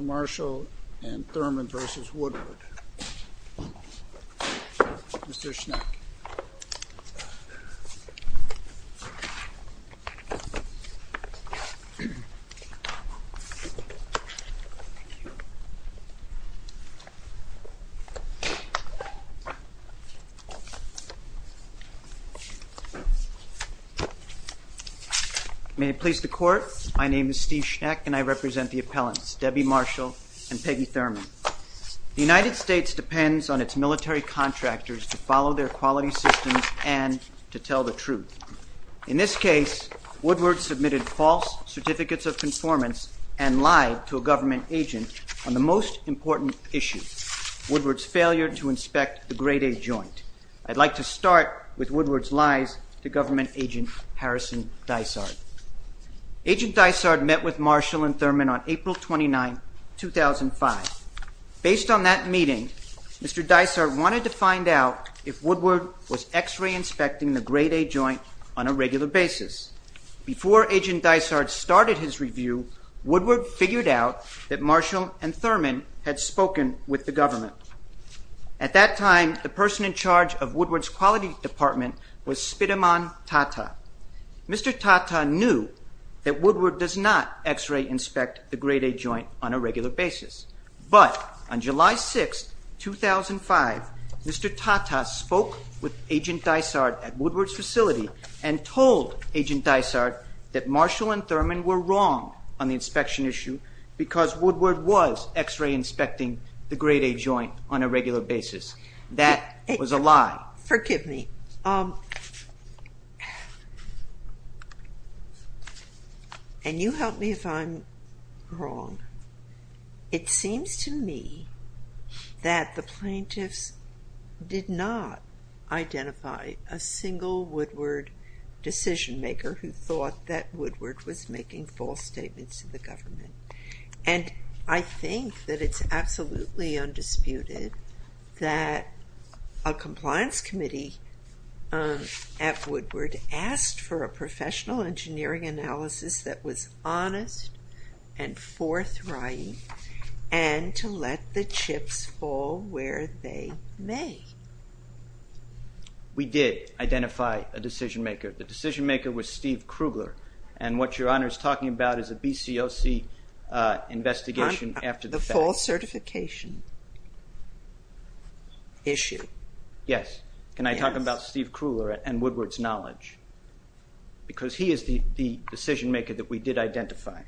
Marshall and Thurman v. Woodward. Mr. Schneck. May it please the Court, my name is Steve Schneck and I represent the appellants Debbie Marshall and Peggy Thurman. The United States depends on its military contractors to follow their quality systems and to tell the truth. In this case, Woodward submitted false certificates of conformance and lied to a government agent on the most important issue, Woodward's failure to inspect the Grade A joint. I'd like to start with Woodward's lies to government agent Harrison Dysart. Agent Dysart met with Marshall and Thurman on April 29, 2005. Based on that meeting, Mr. Dysart wanted to find out if Woodward was X-ray inspecting the Grade A joint on a regular basis. Before agent Dysart started his review, Woodward figured out that Marshall and Thurman had spoken with the government. At that time, the person in charge of Woodward's quality department was Spitamon Tata. Mr. Tata knew that Woodward does not X-ray inspect the Grade A joint on a regular basis. But on July 6, 2005, Mr. Tata spoke with agent Dysart at Woodward's facility and told agent Dysart that Marshall and Thurman were wrong on the inspection issue because Woodward was X-ray inspecting the Grade A joint on a regular basis. That was a lie. Forgive me. And you help me if I'm wrong. It seems to me that the plaintiffs did not identify a single Woodward decision maker who thought that Woodward was making false statements to the government. And I think that it's absolutely undisputed that a compliance committee at Woodward asked for a professional engineering analysis that was honest and forthright and to let the chips fall where they may. We did identify a decision maker. The decision maker was Steve Krugler. And what Your Honor is talking about is a BCOC investigation after the fact. The false certification issue. Yes. Can I talk about Steve Krugler and Woodward's knowledge? Because he is the decision maker that we did identify.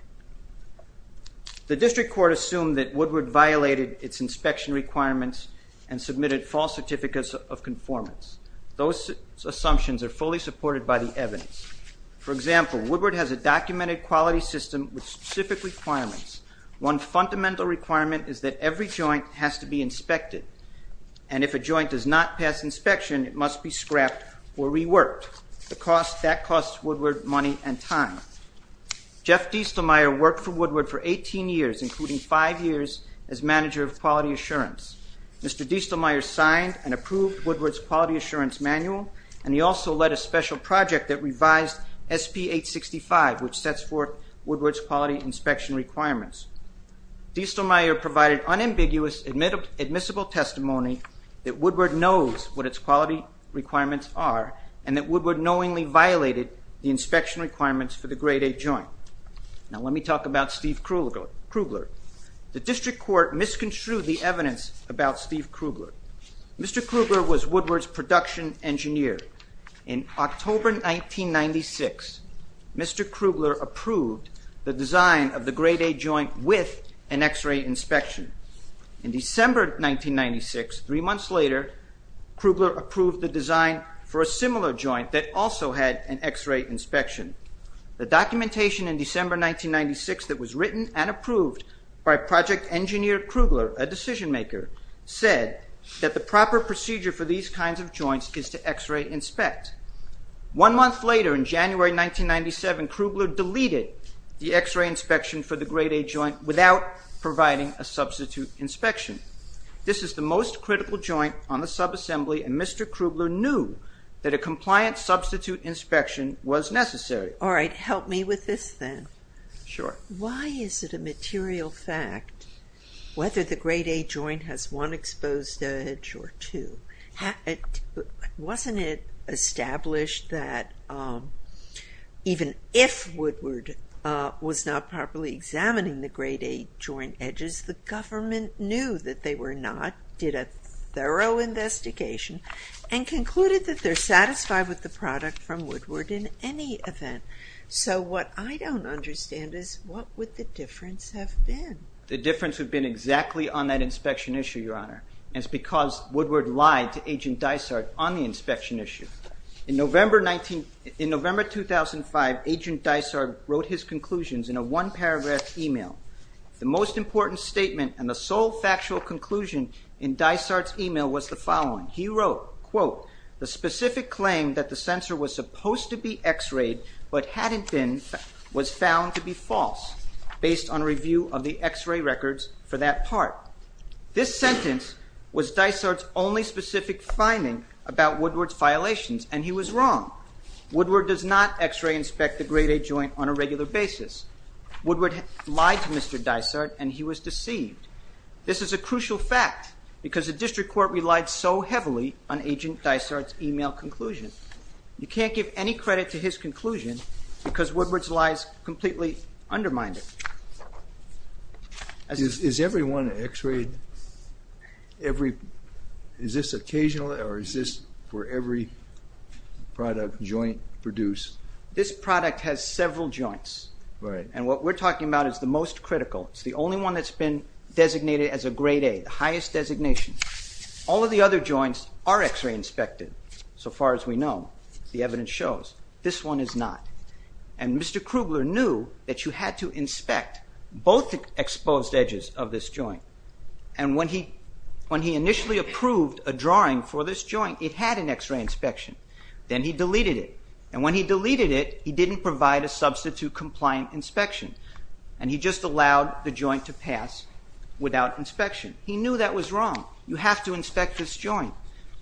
The district court assumed that Woodward violated its inspection requirements and submitted false certificates of conformance. Those assumptions are fully supported by the evidence. For example, Woodward has a documented quality system with specific requirements. One fundamental requirement is that every joint has to be inspected. And if a joint does not pass inspection, it must be scrapped or reworked. The cost, that costs Woodward money and time. Jeff Diestelmeier worked for Woodward for 18 years, including five years as manager of quality assurance. Mr. Diestelmeier signed and approved Woodward's quality assurance manual. And he also led a special project that revised SP 865, which sets forth Woodward's quality inspection requirements. Diestelmeier provided unambiguous admissible testimony that Woodward knows what its quality requirements are. And that Woodward knowingly violated the inspection requirements for the grade A joint. Now let me talk about Steve Krugler. The district court misconstrued the evidence about Steve Krugler. Mr. Krugler was Woodward's production engineer. In October 1996, Mr. Krugler approved the design of the grade A joint with an x-ray inspection. In December 1996, three months later, Krugler approved the design for a similar joint that also had an x-ray inspection. The documentation in December 1996 that was written and approved by project engineer Krugler, a decision maker, said that the proper procedure for these kinds of joints is to x-ray inspect. One month later, in January 1997, Krugler deleted the x-ray inspection for the grade A joint without providing a substitute inspection. This is the most critical joint on the subassembly, and Mr. Krugler knew that a compliant substitute inspection was necessary. All right, help me with this then. Sure. Why is it a material fact whether the grade A joint has one exposed edge or two? Wasn't it established that even if Woodward was not properly examining the grade A joint edges, the government knew that they were not, did a thorough investigation, and concluded that they're satisfied with the product from Woodward in any event? So what I don't understand is what would the difference have been? The difference would have been exactly on that inspection issue, Your Honor, and it's because Woodward lied to Agent Dysart on the inspection issue. In November 2005, Agent Dysart wrote his conclusions in a one-paragraph email. The most important statement and the sole factual conclusion in Dysart's email was the following. He wrote, quote, the specific claim that the sensor was supposed to be x-rayed but hadn't been, was found to be false based on review of the x-ray records for that part. This sentence was Dysart's only specific finding about Woodward's violations, and he was wrong. Woodward does not x-ray inspect the grade A joint on a regular basis. Woodward lied to Mr. Dysart, and he was deceived. This is a crucial fact because the district court relied so heavily on Agent Dysart's email conclusion. You can't give any credit to his conclusion because Woodward's lies completely undermined it. Is everyone x-rayed every, is this occasional or is this where every product, joint produced? This product has several joints, and what we're talking about is the most critical. It's the only one that's been designated as a grade A, the highest designation. All of the other joints are x-ray inspected, so far as we know. The evidence shows this one is not, and Mr. Krugler knew that you had to inspect both exposed edges of this joint, and when he initially approved a drawing for this joint, it had an x-ray inspection. Then he deleted it, and when he deleted it, he didn't provide a substitute compliant inspection, and he just allowed the joint to pass without inspection. He knew that was wrong. You have to inspect this joint.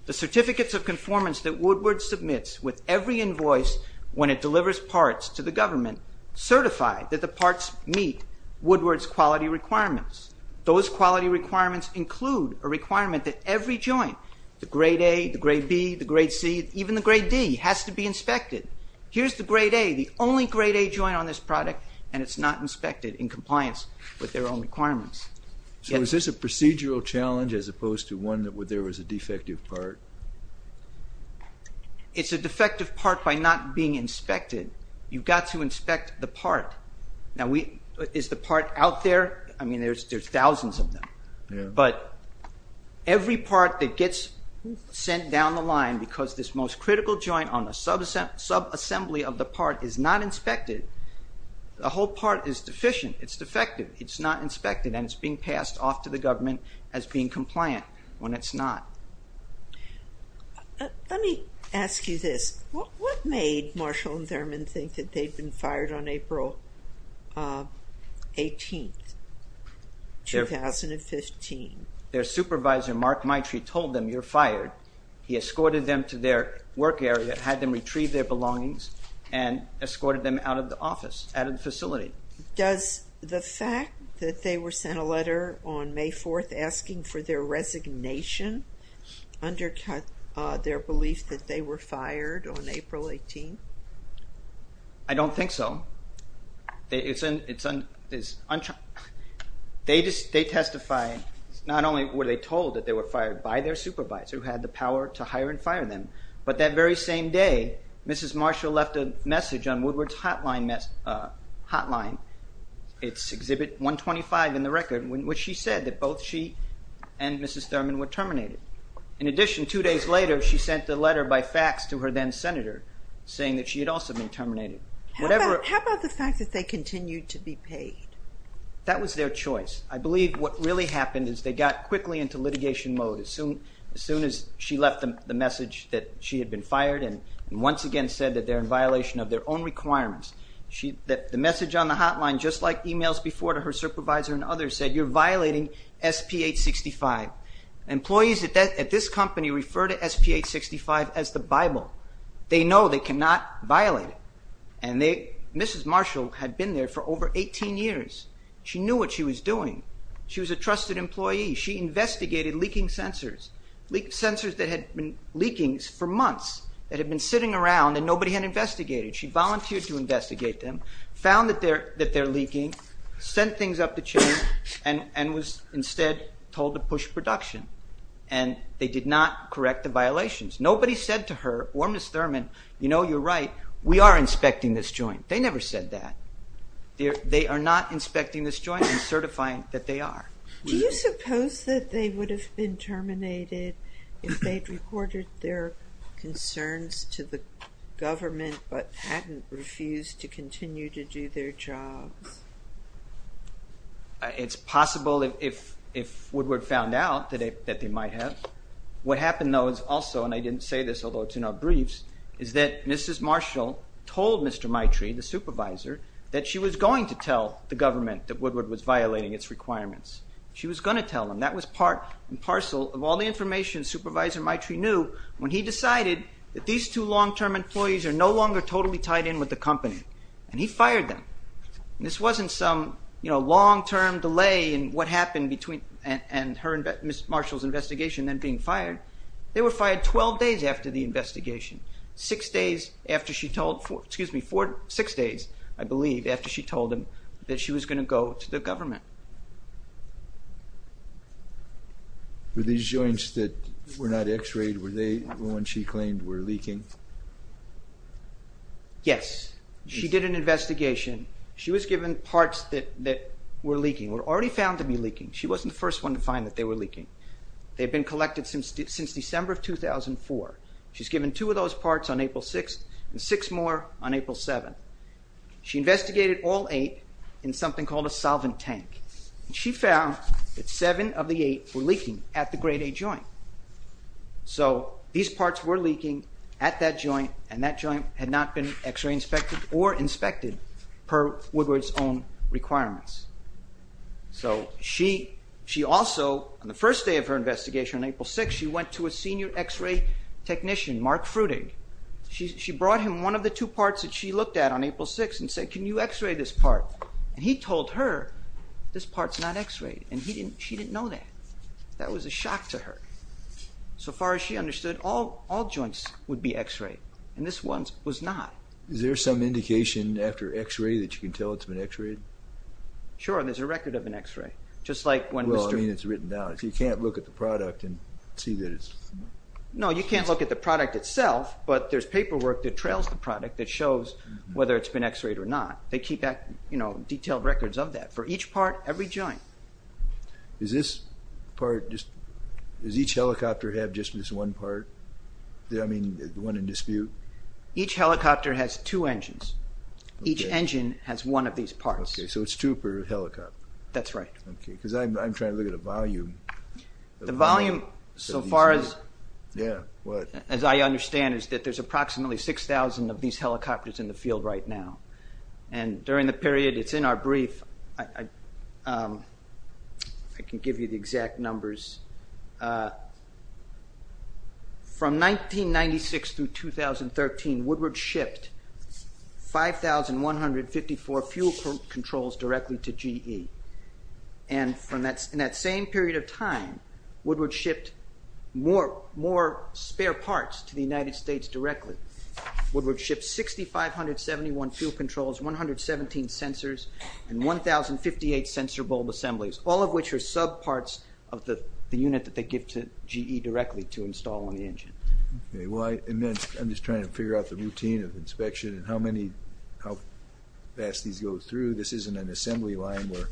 The certificates of conformance that Woodward submits with every invoice when it delivers parts to the government certify that the parts meet Woodward's quality requirements. Those quality requirements include a requirement that every joint, the grade A, the grade B, the grade C, even the grade D, has to be inspected. Here's the grade A, the only grade A joint on this product, and it's not inspected in compliance with their own requirements. So is this a procedural challenge as opposed to one that there was a defective part? It's a defective part by not being inspected. You've got to inspect the part. Now, is the part out there? I mean, there's thousands of them, but every part that gets sent down the line because this most critical joint on the subassembly of the part is not inspected, the whole part is deficient. It's defective. It's not inspected, and it's being passed off to the government as being compliant when it's not. Let me ask you this. What made Marshall and Thurman think that they'd been fired on April 18th, 2015? Their supervisor, Mark Maitre, told them, you're fired. He escorted them to their work area, had them retrieve their belongings, and escorted them out of the office, out of the facility. Does the fact that they were sent a letter on May 4th asking for their resignation undercut their belief that they were fired on April 18th? I don't think so. They testified, not only were they told that they were fired by their supervisor who had the power to hire and fire them, but that very same day Mrs. Marshall left a message on Woodward's hotline, it's exhibit 125 in the record, which she said that both she and Mrs. Thurman were terminated. In addition, two days later, she sent a letter by fax to her then senator saying that she had also been terminated. How about the fact that they continued to be paid? That was their choice. I believe what really happened is they got quickly into litigation mode as soon as she left the message that she had been fired and once again said that they're in violation of their own requirements. The message on the hotline, just like emails before to her supervisor and others said, you're violating SP 865. Employees at this company refer to SP 865 as the Bible. They know they cannot violate it and Mrs. Marshall had been there for over 18 years. She knew what she was doing. She was a trusted employee. She investigated leaking sensors, leak sensors that had been leaking for months that had been sitting around and nobody had investigated. She volunteered to investigate them, found that they're leaking, sent things up the chain and was instead told to push production and they did not correct the violations. Nobody said to her or Mrs. Thurman, you know you're right, we are inspecting this joint. They never said that. They are not inspecting this joint and certifying that they are. Do you suppose that they would have been terminated if they'd reported their concerns to the government but hadn't refused to continue to do their jobs? It's possible if Woodward found out that they might have. What happened though is also, and I didn't say this although it's in our briefs, is that Mrs. Marshall told Mr. Maitrey, the supervisor, that she was going to tell the government that Woodward was violating its requirements. She was going to tell them. That was part and parcel of all the information Supervisor Maitrey knew when he decided that these two long-term employees are no longer totally tied in with the company and he fired them. This wasn't some, you know, long-term delay in what happened between and her and Mrs. Marshall's investigation then being fired. They were fired 12 days after the investigation. Six days after she told, excuse me, four, six days I believe after she told them that she was going to go to the government. Were these joints that were not x-rayed, were they the ones she claimed were leaking? Yes. She did an investigation. She was given parts that were leaking, were already found to be leaking. She wasn't the first one to find that they were leaking. They've been collected since December of 2004. She's given two of those parts on April 6th and six more on April 7th. She investigated all eight in something called a solvent tank. She found that seven of the eight were leaking at the grade A joint. So these parts were leaking at that joint and that joint had not been x-ray inspected or inspected per Woodward's own requirements. So she also, on the first day of her investigation on April 6th, she went to a senior x-ray technician, Mark Frutig. She brought him one of the two parts that she looked at on April 6th and said, can you x-ray this part? And he told her, this part's not x-rayed and she didn't know that. That was a shock to her. So far as she understood, all joints would be x-rayed and this one was not. Is there some indication after x-ray that you can tell it's been x-rayed? Sure. And there's a record of an x-ray, just like when... Well, I mean, it's written down. So you can't look at the product and see that it's... No, you can't look at the product itself, but there's paperwork that trails the product that shows whether it's been x-rayed or not. They keep detailed records of that for each part, every joint. Does this part, does each helicopter have just this one part? I mean, the one in dispute? Each helicopter has two engines. Each engine has one of these parts. Okay, so it's two per helicopter? That's right. Okay, because I'm trying to look at the volume. The volume, so far as... Yeah, what? As I understand, is that there's approximately 6,000 of these helicopters in the field right now. And during the period it's in our brief, I can give you the exact numbers. From 1996 through 2013, Woodward shipped 5,154 fuel controls directly to GE. And in that same period of time, Woodward shipped more spare parts to the United States directly. Woodward shipped 6,571 fuel controls, 117 sensors, and 1,058 sensor bulb assemblies, all of which are subparts of the unit that they give to GE directly to install on the engine. And then I'm just trying to figure out the routine of inspection and how many, how fast these go through. This isn't an assembly line where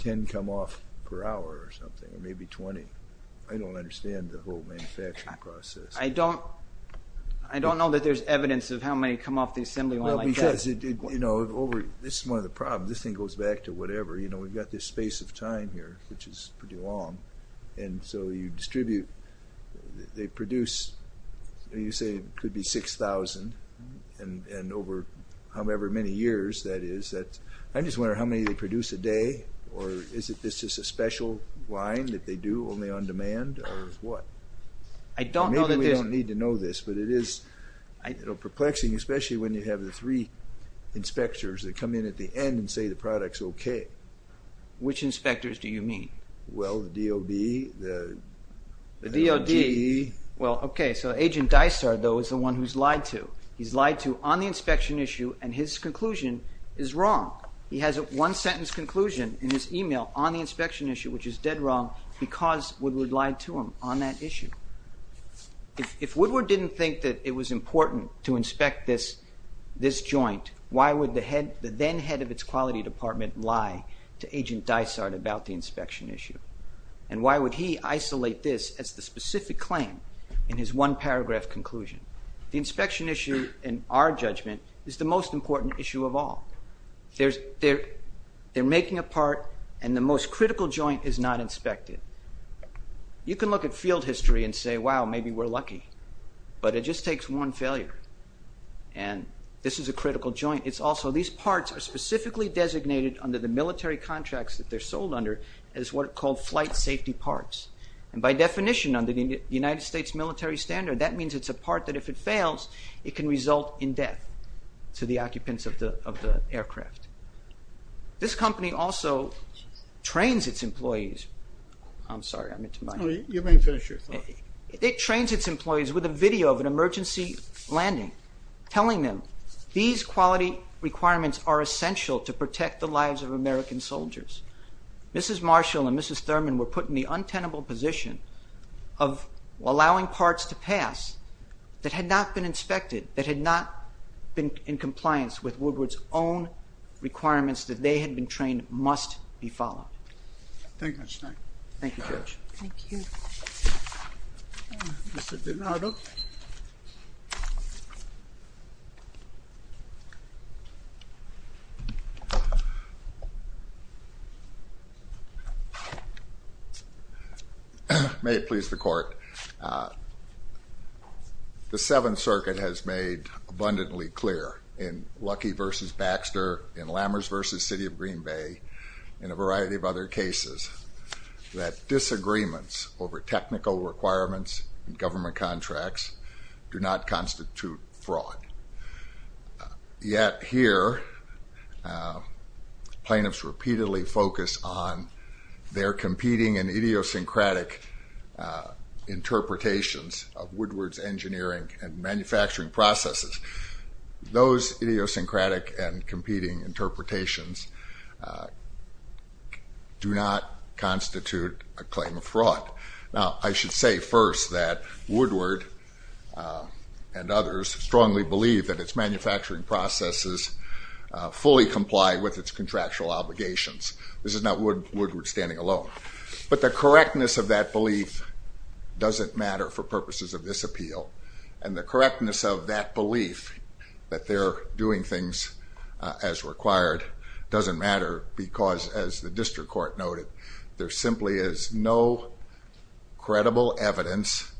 10 come off per hour or something, or maybe 20. I don't understand the whole manufacturing process. I don't know that there's evidence of how many come off the assembly line like that. Because, you know, this is one of the problems, this thing goes back to whatever, you know, we've got this space of time here, which is pretty long. And so you distribute, they produce, you say it could be 6,000, and over however many years that is. I'm just wondering how many they produce a day, or is this just a special line that they do only on demand, or what? I don't know that there's... Maybe we don't need to know this, but it is perplexing, especially when you have the three inspectors that come in at the end and say the product's okay. Which inspectors do you mean? Well, the DOD, the... The DOD. Well, okay, so Agent Dysart, though, is the one who's lied to. He's lied to on the inspection issue, and his conclusion is wrong. He has a one-sentence conclusion in his email on the inspection issue, which is dead wrong, because Woodward lied to him on that issue. If Woodward didn't think that it was important to inspect this joint, why would the then head of its quality department lie to Agent Dysart about the inspection issue? And why would he isolate this as the specific claim in his one-paragraph conclusion? The inspection issue, in our judgment, is the most important issue of all. There's... They're making a part, and the most critical joint is not inspected. You can look at field history and say, wow, maybe we're lucky, but it just takes one failure, and this is a critical joint. It's also... These parts are specifically designated under the military contracts that they're sold under as what are called flight safety parts, and by definition, under the United States military standard, that means it's a part that if it fails, it can result in death to the occupants of the aircraft. This company also trains its employees. I'm sorry, I'm into my... You may finish your thought. It trains its employees with a video of an emergency landing, telling them these quality requirements are essential to protect the lives of American soldiers. Mrs. Marshall and Mrs. Thurman were put in the untenable position of allowing parts to pass that had not been inspected, that had not been in compliance with Woodward's own requirements that they had been trained must be followed. Thank you, Mr. Stein. Thank you, Judge. Thank you. May it please the court. The Seventh Circuit has made abundantly clear in Luckey versus Baxter, in Lammers versus City of Green Bay, and a variety of other cases that disagreements over technical requirements in government contracts do not constitute fraud. Yet here, plaintiffs repeatedly focus on their competing and idiosyncratic interpretations of Woodward's engineering and manufacturing processes. Those idiosyncratic and competing interpretations do not constitute a claim of fraud. Now, I should say first that Woodward and others strongly believe that its manufacturing processes fully comply with its contractual obligations. This is not Woodward standing alone. But the correctness of that belief doesn't matter for purposes of this appeal. And the correctness of that belief that they're doing things as required doesn't matter because, as the district court noted, there simply is no credible evidence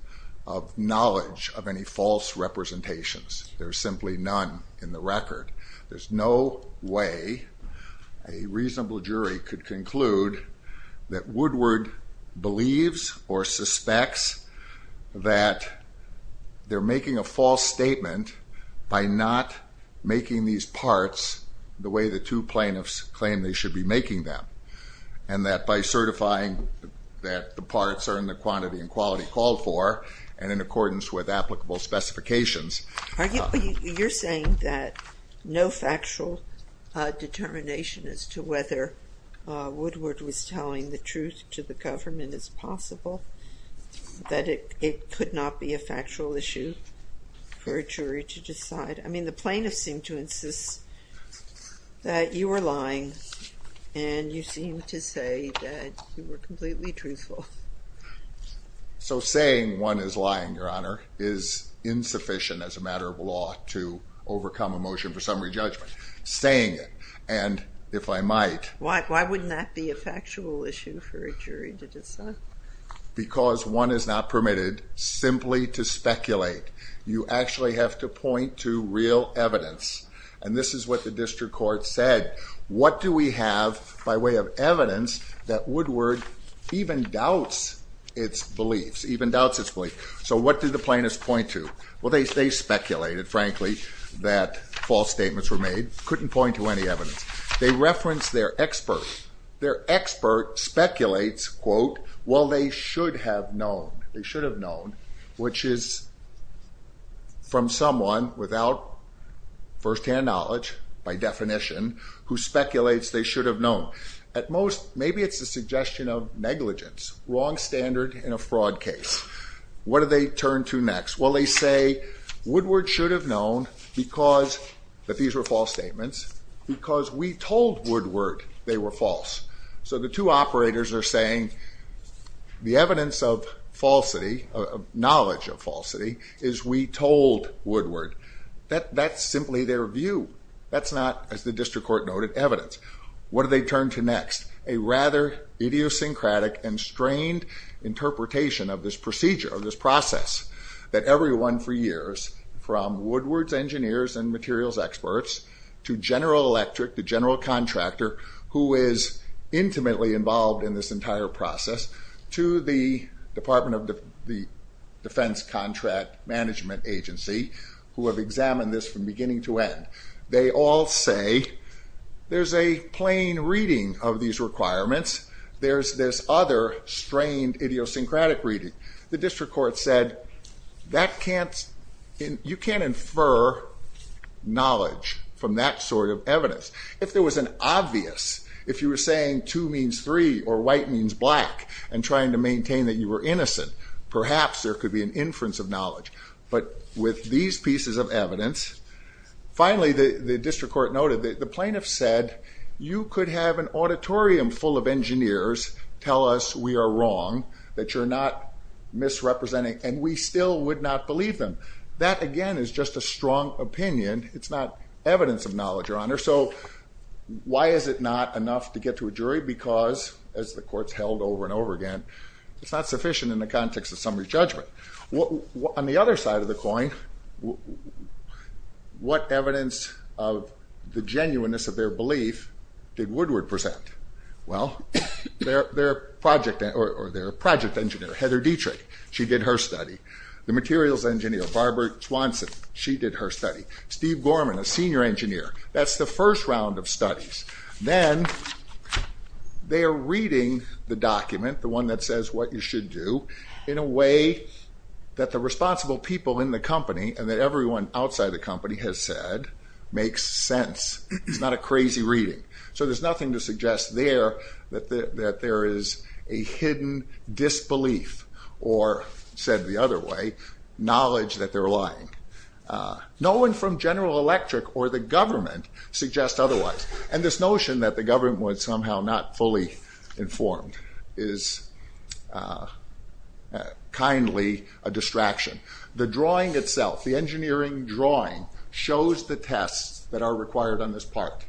of knowledge of any false representations. There's simply none in the record. There's no way a reasonable jury could conclude that Woodward believes or suspects that they're making a false statement by not making these parts the way the two plaintiffs claim they should be making them, and that by certifying that the parts are in the quantity and quality called for and in accordance with applicable specifications. Are you saying that no factual determination as to whether Woodward was telling the truth to the government is possible, that it could not be a factual issue for a jury to decide? I mean, the plaintiffs seem to insist that you were lying and you seem to say that you were completely truthful. So saying one is lying, Your Honor, is insufficient as a matter of law to overcome a motion for summary judgment. Saying it, and if I might... Why wouldn't that be a factual issue for a jury to decide? Because one is not permitted simply to speculate. You actually have to point to real evidence, and this is what the district court said. What do we have by way of evidence that Woodward even doubts its beliefs, even doubts its belief? So what did the plaintiffs point to? Well, they speculated, frankly, that false statements were made. Couldn't point to any evidence. They referenced their expert. Their expert speculates, quote, well, they should have known. They should have known, which is from someone without firsthand knowledge, by definition, who speculates they should have known. At most, maybe it's a suggestion of negligence, wrong standard in a fraud case. What do they turn to next? Well, they say, Woodward should have known because that these were false statements, because we told Woodward they were false. So the two operators are saying the evidence of falsity, knowledge of falsity, is we told Woodward. That's simply their view. That's not, as the district court noted, evidence. What do they turn to next? A rather idiosyncratic and strained interpretation of this procedure, of this process, that everyone for years, from Woodward's engineers and materials experts, to General Electric, the general contractor, who is intimately involved in this entire process, to the Department of the Defense Contract Management Agency, who have examined this from beginning to end. They all say, there's a plain reading of these requirements. There's this other strained, idiosyncratic reading. The district court said, that can't, you can't infer knowledge from that sort of evidence. If there was an obvious, if you were saying two means three, or white means black, and trying to maintain that you were innocent, perhaps there could be an inference of knowledge. But with these pieces of evidence, finally, the district court noted that the plaintiff said, you could have an auditorium full of engineers tell us we are wrong, that you're not misrepresenting, and we still would not believe them. That, again, is just a strong opinion. It's not evidence of knowledge, Your Honor. So, why is it not enough to get to a jury? Because, as the courts held over and over again, it's not sufficient in the context of summary judgment. On the other side of the coin, what evidence of the genuineness of their belief did Woodward present? Well, their project, or their project engineer, Heather Dietrich, she did her study. The materials engineer, Barbara Swanson, she did her study. Steve Gorman, a senior engineer, that's the first round of studies. Then, they're reading the document, the one that says what you should do, in a way that the responsible people in the company, and that everyone outside the company has said, makes sense. It's not a crazy reading. So, there's nothing to suggest there that there is a hidden disbelief, or said the other way, knowledge that they're lying. No one from General Electric, or the government, suggests otherwise. And this notion that the government was somehow not fully informed is kindly a distraction. The drawing itself, the engineering drawing, shows the tests that are required on this part.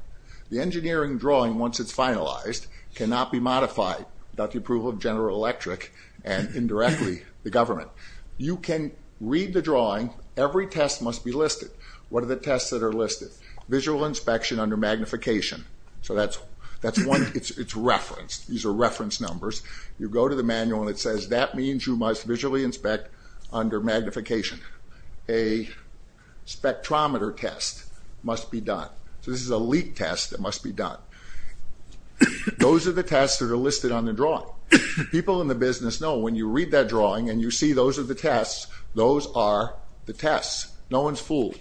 The engineering drawing, once it's finalized, cannot be modified without the approval of General Electric, and indirectly, the government. You can read the drawing. Every test must be listed. What are the tests that are listed? Visual inspection under magnification. So, that's one, it's referenced. These are reference numbers. You go to the manual, and it says that means you must visually inspect under magnification. A spectrometer test must be done. So, this is a leak test that must be done. Those are the tests that are listed on the drawing. People in the business know when you read that drawing, and you see those are the tests, those are the tests. No one's fooled.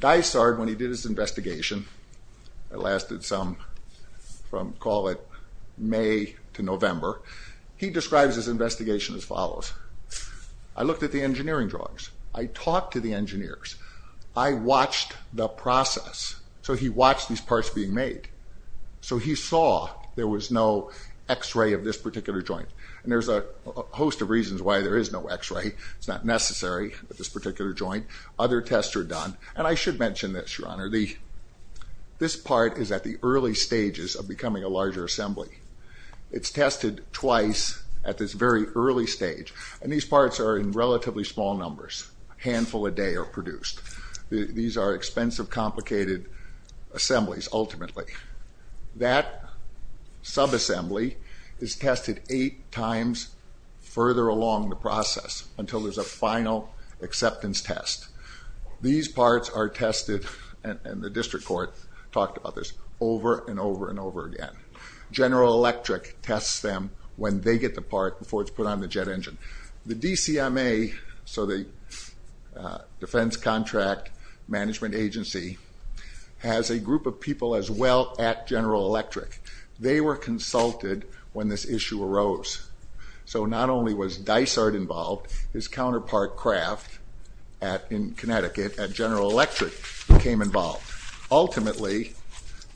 Dysart, when he did his investigation, it lasted some, from call it May to November, he describes his investigation as follows. I looked at the engineering drawings. I talked to the engineers. I watched the process. So, he watched these parts being made. So, he saw there was no X-ray of this particular joint, and there's a host of reasons why there is no X-ray. It's not necessary at this particular joint. Other tests are done, and I should mention this, Your Honor. This part is at the early stages of becoming a larger assembly. It's tested twice at this very early stage, and these parts are in relatively small numbers. A handful a day are produced. These are expensive, complicated assemblies, ultimately. That subassembly is tested eight times further along the process until there's a final acceptance test. These parts are tested, and the district court talked about this, over and over and over again. General Electric tests them when they get the part before it's put on the jet engine. The DCMA, so the Defense Contract Management Agency, has a group of people as well at General Electric. They were consulted when this issue arose. So not only was Dysart involved, his counterpart, Kraft, in Connecticut, at General Electric became involved. Ultimately,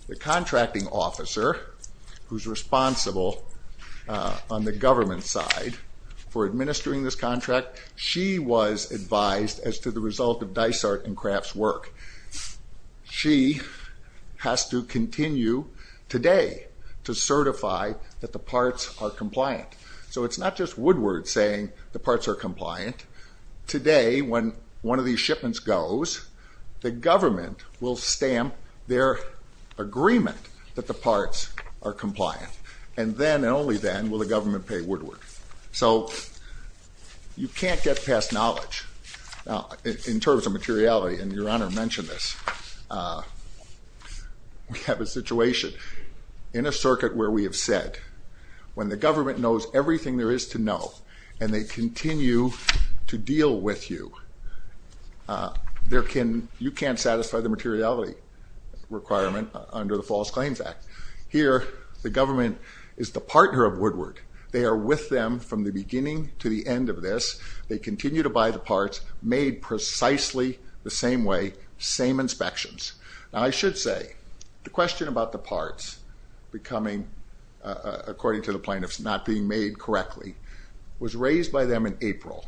the contracting officer, who's responsible on the government side for administering this contract, she was advised as to the result of Dysart and Kraft's work. She has to continue today to certify that the parts are compliant. So it's not just Woodward saying the parts are compliant. Today, when one of these shipments goes, the government will stamp their agreement that the parts are compliant. And then, and only then, will the government pay Woodward. So you can't get past knowledge. Now, in terms of materiality, and Your Honor mentioned this, we have a situation in a circuit where we have said, when the government knows everything there is to know and they continue to deal with you, you can't satisfy the materiality requirement under the False Claims Act. Here, the government is the partner of Woodward. They are with them from the beginning to the end of this. They continue to buy the parts, made precisely the same way, same inspections. Now, I should say, the question about the parts becoming, according to the plaintiffs, not being made correctly, was raised by them in April,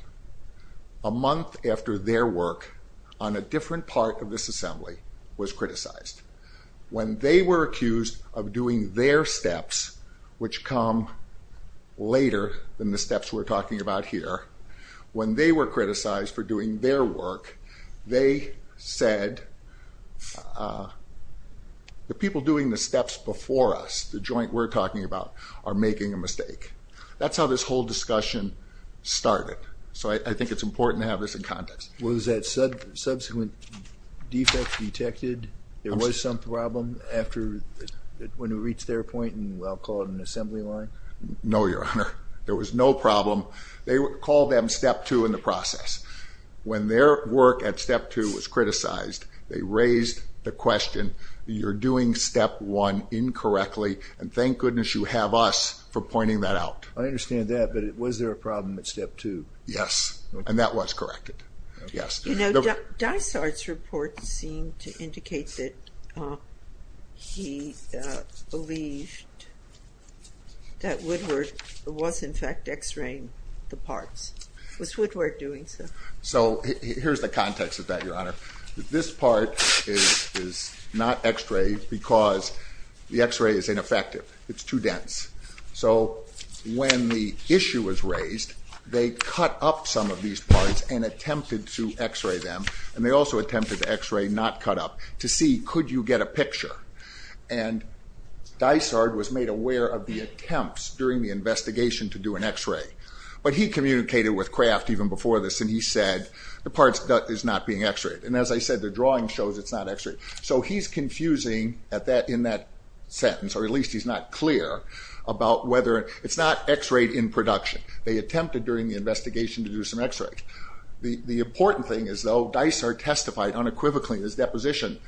a month after their work on a different part of this assembly was criticized. When they were accused of doing their steps, which come later than the steps we're talking about here, when they were criticized for doing their work, they said, the people doing the steps before us, the joint we're talking about, are making a mistake. That's how this whole discussion started. So I think it's important to have this in context. Was that subsequent defect detected? There was some problem after when it reached their point in what I'll call an assembly line? No, Your Honor. There was no problem. They would call them step two in the process. When their work at step two was criticized, they raised the question, you're doing step one incorrectly, and thank goodness you have us for pointing that out. I understand that, but was there a problem at step two? Yes, and that was corrected. Yes. You know, Dysart's report seemed to indicate that he believed that Woodward was, in fact, X-raying the parts. Was Woodward doing so? Here's the context of that, Your Honor. This part is not X-rayed because the X-ray is ineffective. It's too dense. So when the issue was raised, they cut up some of these parts and attempted to X-ray them, and they also attempted to X-ray, not cut up, to see could you get a picture? And Dysart was made aware of the attempts during the investigation to do an X-ray. But he communicated with Kraft even before this, and he said, the part is not being X-rayed. And as I said, the drawing shows it's not X-rayed. So he's confusing in that sentence, or at least he's not clear about whether, it's not X-rayed in production. They attempted during the investigation to do some X-rays. The important thing is, though, Dysart testified unequivocally in his deposition,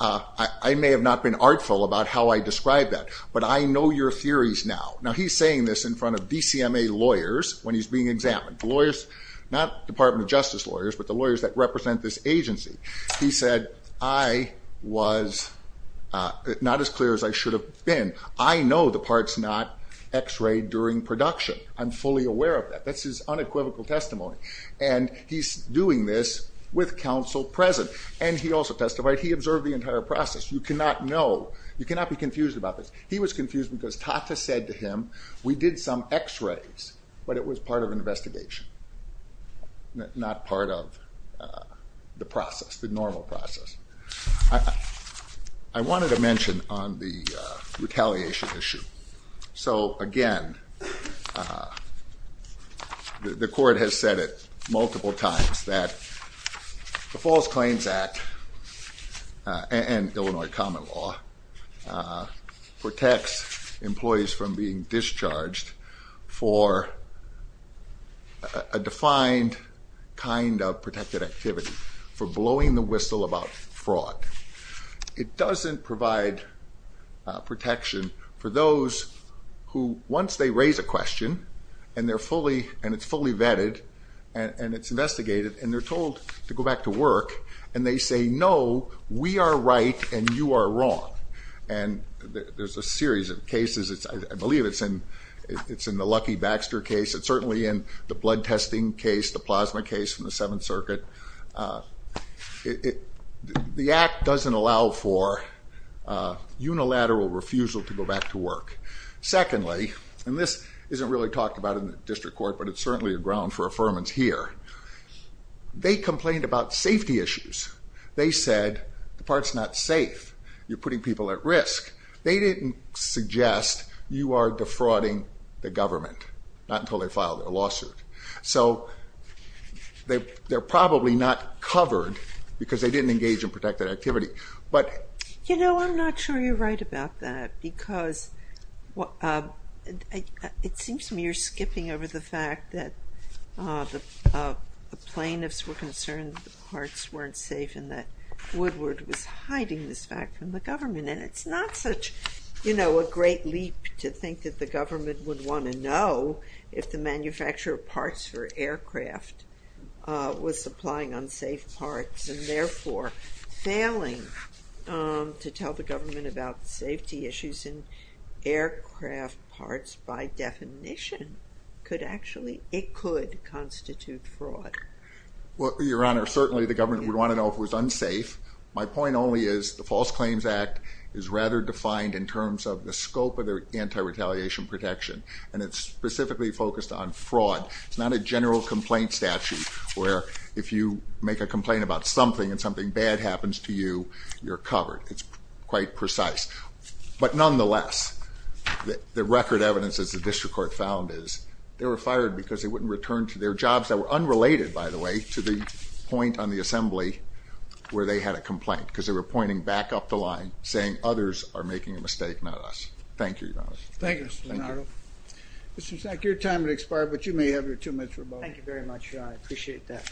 I may have not been artful about how I described that, but I know your theories now. Now, he's saying this in front of DCMA lawyers when he's being examined. Not Department of Justice lawyers, but the lawyers that represent this agency. He said, I was not as clear as I should have been. I know the part's not X-rayed during production. I'm fully aware of that. That's his unequivocal testimony. And he's doing this with counsel present. And he also testified, he observed the entire process. You cannot know, you cannot be confused about this. He was confused because Tata said to him, we did some X-rays, but it was part of an investigation, not part of the process, the normal process. I wanted to mention on the retaliation issue. So again, the court has said it multiple times that the False Claims Act and Illinois common law protects employees from being discharged for a defined kind of protected activity for blowing the whistle about fraud. It doesn't provide protection for those who once they raise a question and they're fully and it's fully vetted and it's investigated and they're told to go back to work and they say, no, we are right and you are wrong. And there's a series of cases. I believe it's in it's in the Lucky Baxter case. It's certainly in the blood testing case, the plasma case from the Seventh Circuit. The act doesn't allow for unilateral refusal to go back to work. Secondly, and this isn't really talked about in the district court, but it's certainly a ground for affirmance here. They complained about safety issues. They said the part's not safe. You're putting people at risk. They didn't suggest you are defrauding the government, not until they filed a lawsuit. So they're probably not covered because they didn't engage in protected activity. But you know, I'm not sure you're right about that because it seems to me you're skipping over the fact that the plaintiffs were concerned that the parts weren't safe and that Woodward was hiding this fact from the government. And it's not such, you know, a great leap to think that the government would want to know if the manufacturer of parts for aircraft was supplying unsafe parts and therefore failing to tell the government about safety issues in aircraft parts by definition could actually, it could constitute fraud. Well, Your Honor, certainly the government would want to know if it was unsafe. My point only is the False Claims Act is rather defined in terms of the scope of their anti-retaliation protection. And it's specifically focused on fraud. It's not a general complaint statute where if you make a complaint about something and something bad happens to you, you're covered. It's quite precise. But nonetheless, the record evidence as the district court found because they wouldn't return to their jobs that were unrelated, by the way, to the point on the assembly where they had a complaint because they were pointing back up the line saying others are making a mistake, not us. Thank you, Your Honor. Thank you, Mr. Donato. Mr. Sack, your time has expired, but you may have your two minutes. Thank you very much. I appreciate that.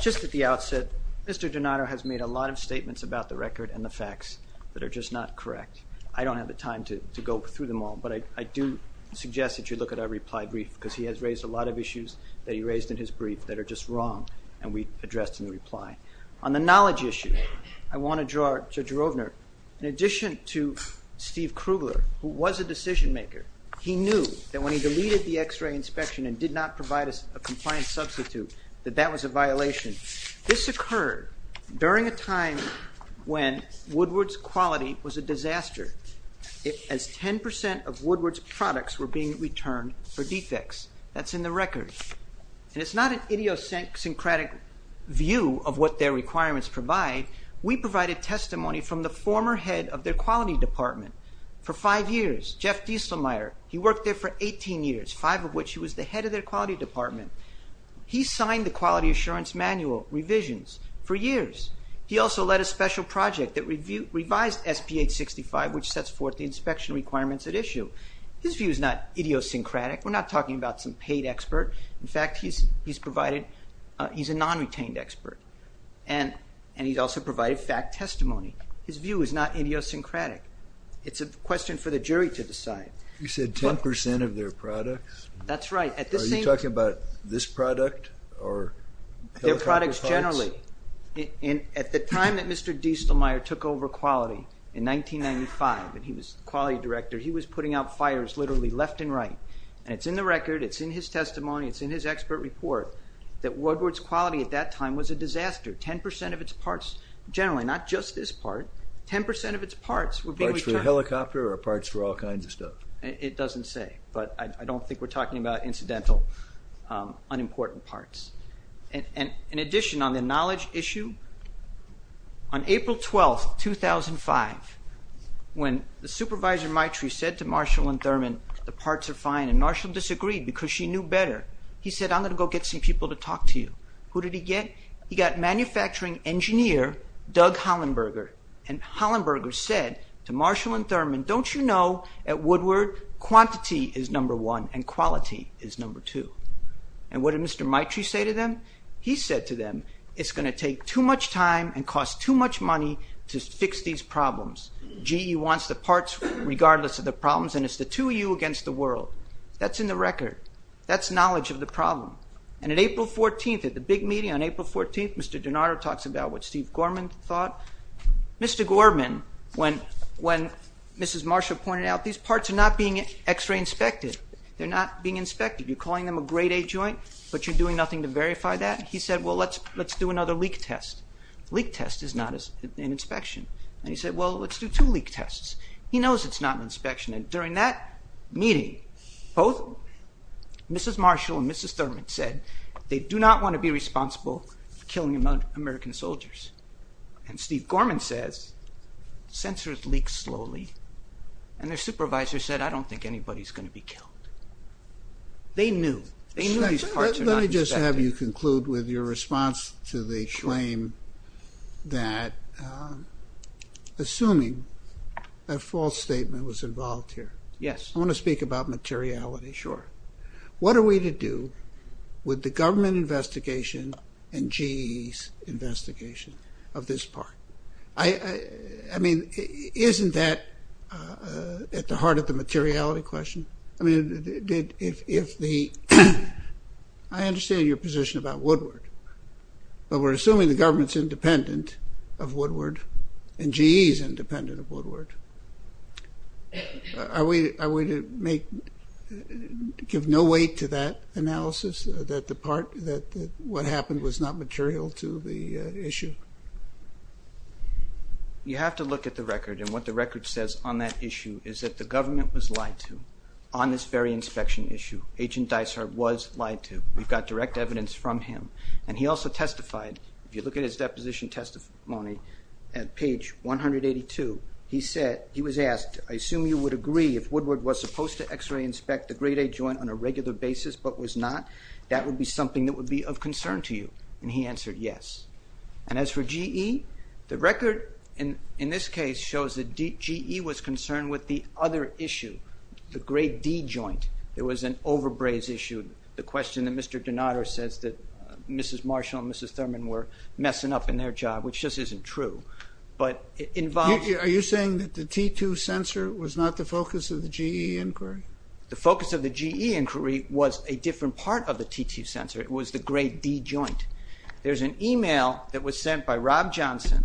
Just at the outset, Mr. Donato has made a lot of statements about the record and the facts that are just not correct. I don't have the time to go through them all, but I do suggest that you look at our reply brief because he has raised a lot of issues that he raised in his brief that are just wrong and we addressed in the reply. On the knowledge issue, I want to draw to Drovner. In addition to Steve Krugler, who was a decision maker, he knew that when he deleted the x-ray inspection and did not provide us a compliant substitute, that that was a violation. This occurred during a time when Woodward's quality was a disaster as 10% of Woodward's products were being returned for defects. That's in the record. And it's not an idiosyncratic view of what their requirements provide. We provided testimony from the former head of their quality department for five years, Jeff Dieselmeier. He worked there for 18 years, five of which he was the head of their quality department. He signed the quality assurance manual revisions for years. He also led a special project that revised SP-865, which sets forth the inspection requirements at issue. His view is not idiosyncratic. We're not talking about some paid expert. In fact, he's a non-retained expert and he's also provided fact testimony. His view is not idiosyncratic. It's a question for the jury to decide. You said 10% of their products? That's right. Are you talking about this product? Their products generally. At the time that Mr. Dieselmeier took over quality in 1995, and he was quality director, he was putting out fires literally left and right. And it's in the record. It's in his testimony. It's in his expert report that Woodward's quality at that time was a disaster. 10% of its parts, generally, not just this part, 10% of its parts were being returned. Parts for a helicopter or parts for all kinds of stuff? It doesn't say, but I don't think we're talking about incidental, unimportant parts. In addition, on the knowledge issue, on April 12th, 2005, when the supervisor, Maitreyi, said to Marshall and Thurman, the parts are fine, and Marshall disagreed because she knew better. He said, I'm going to go get some people to talk to you. Who did he get? He got manufacturing engineer, Doug Hollenberger, and Hollenberger said to Marshall and Thurman, don't you know at Woodward quantity is number one and quality is number two? And what did Mr. Maitreyi say to them? He said to them, it's going to take too much time and cost too much money to fix these problems. GE wants the parts regardless of the problems, and it's the two of you against the world. That's in the record. That's knowledge of the problem. And at April 14th, at the big meeting on April 14th, Mr. DiNardo talks about what Steve Gorman thought. Mr. Gorman, when Mrs. Marshall pointed out these parts are not being x-ray inspected, they're not being inspected. You're calling them a grade A joint, but you're doing nothing to verify that. He said, well, let's do another leak test. Leak test is not an inspection. And he said, well, let's do two leak tests. He knows it's not an inspection. And during that meeting, both Mrs. Marshall and Mrs. Thurman said they do not want to be responsible for killing American soldiers. And Steve Gorman says censors leak slowly. And their supervisor said, I don't think anybody's going to be killed. They knew. They knew these parts were not inspected. Let me just have you conclude with your response to the claim that assuming a false statement was involved here. Yes. I want to speak about materiality. Sure. What are we to do with the government investigation and GE's investigation of this part? I mean, isn't that at the heart of the materiality question? I mean, if the, I understand your position about Woodward, but we're assuming the government's independent of Woodward and GE's independent of Woodward. Are we to make, give no weight to that analysis that the part, that what happened was not material to the issue? You have to look at the record. And what the record says on that issue is that the government was lied to on this very inspection issue. Agent Dysart was lied to. We've got direct evidence from him. And he also testified. If you look at his deposition testimony at page 182, he said, he was asked, I assume you would agree if Woodward was supposed to x-ray inspect the grade A joint on a regular basis, but was not, that would be something that would be of concern to you. And he answered yes. And as for GE, the record in this case shows that GE was concerned with the other issue, the grade D joint. There was an overbraze issue. The question that Mr. Donato says that Mrs. Marshall and Mrs. Thurman were messing up in their job, which just isn't true, but it involves- Are you saying that the T2 sensor was not the focus of the GE inquiry? The focus of the GE inquiry was a different part of the T2 sensor. It was the grade D joint. There's an email that was sent by Rob Johnson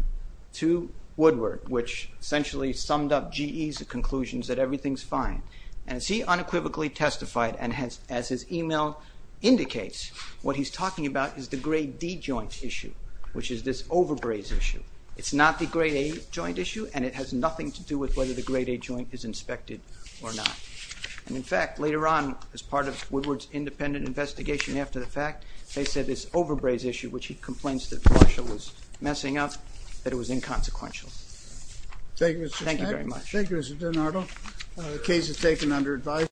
to Woodward, which essentially summed up GE's conclusions that everything's fine. And as he unequivocally testified, and as his email indicates, what he's talking about is the grade D joint issue, which is this overbraze issue. It's not the grade A joint issue. And it has nothing to do with whether the grade A joint is inspected or not. And in fact, later on, as part of Woodward's independent investigation after the fact, they said this overbraze issue, which he complains that Marshall was messing up, that it was inconsequential. Thank you very much. Thank you, Mr. Donato. The case is taken under advice.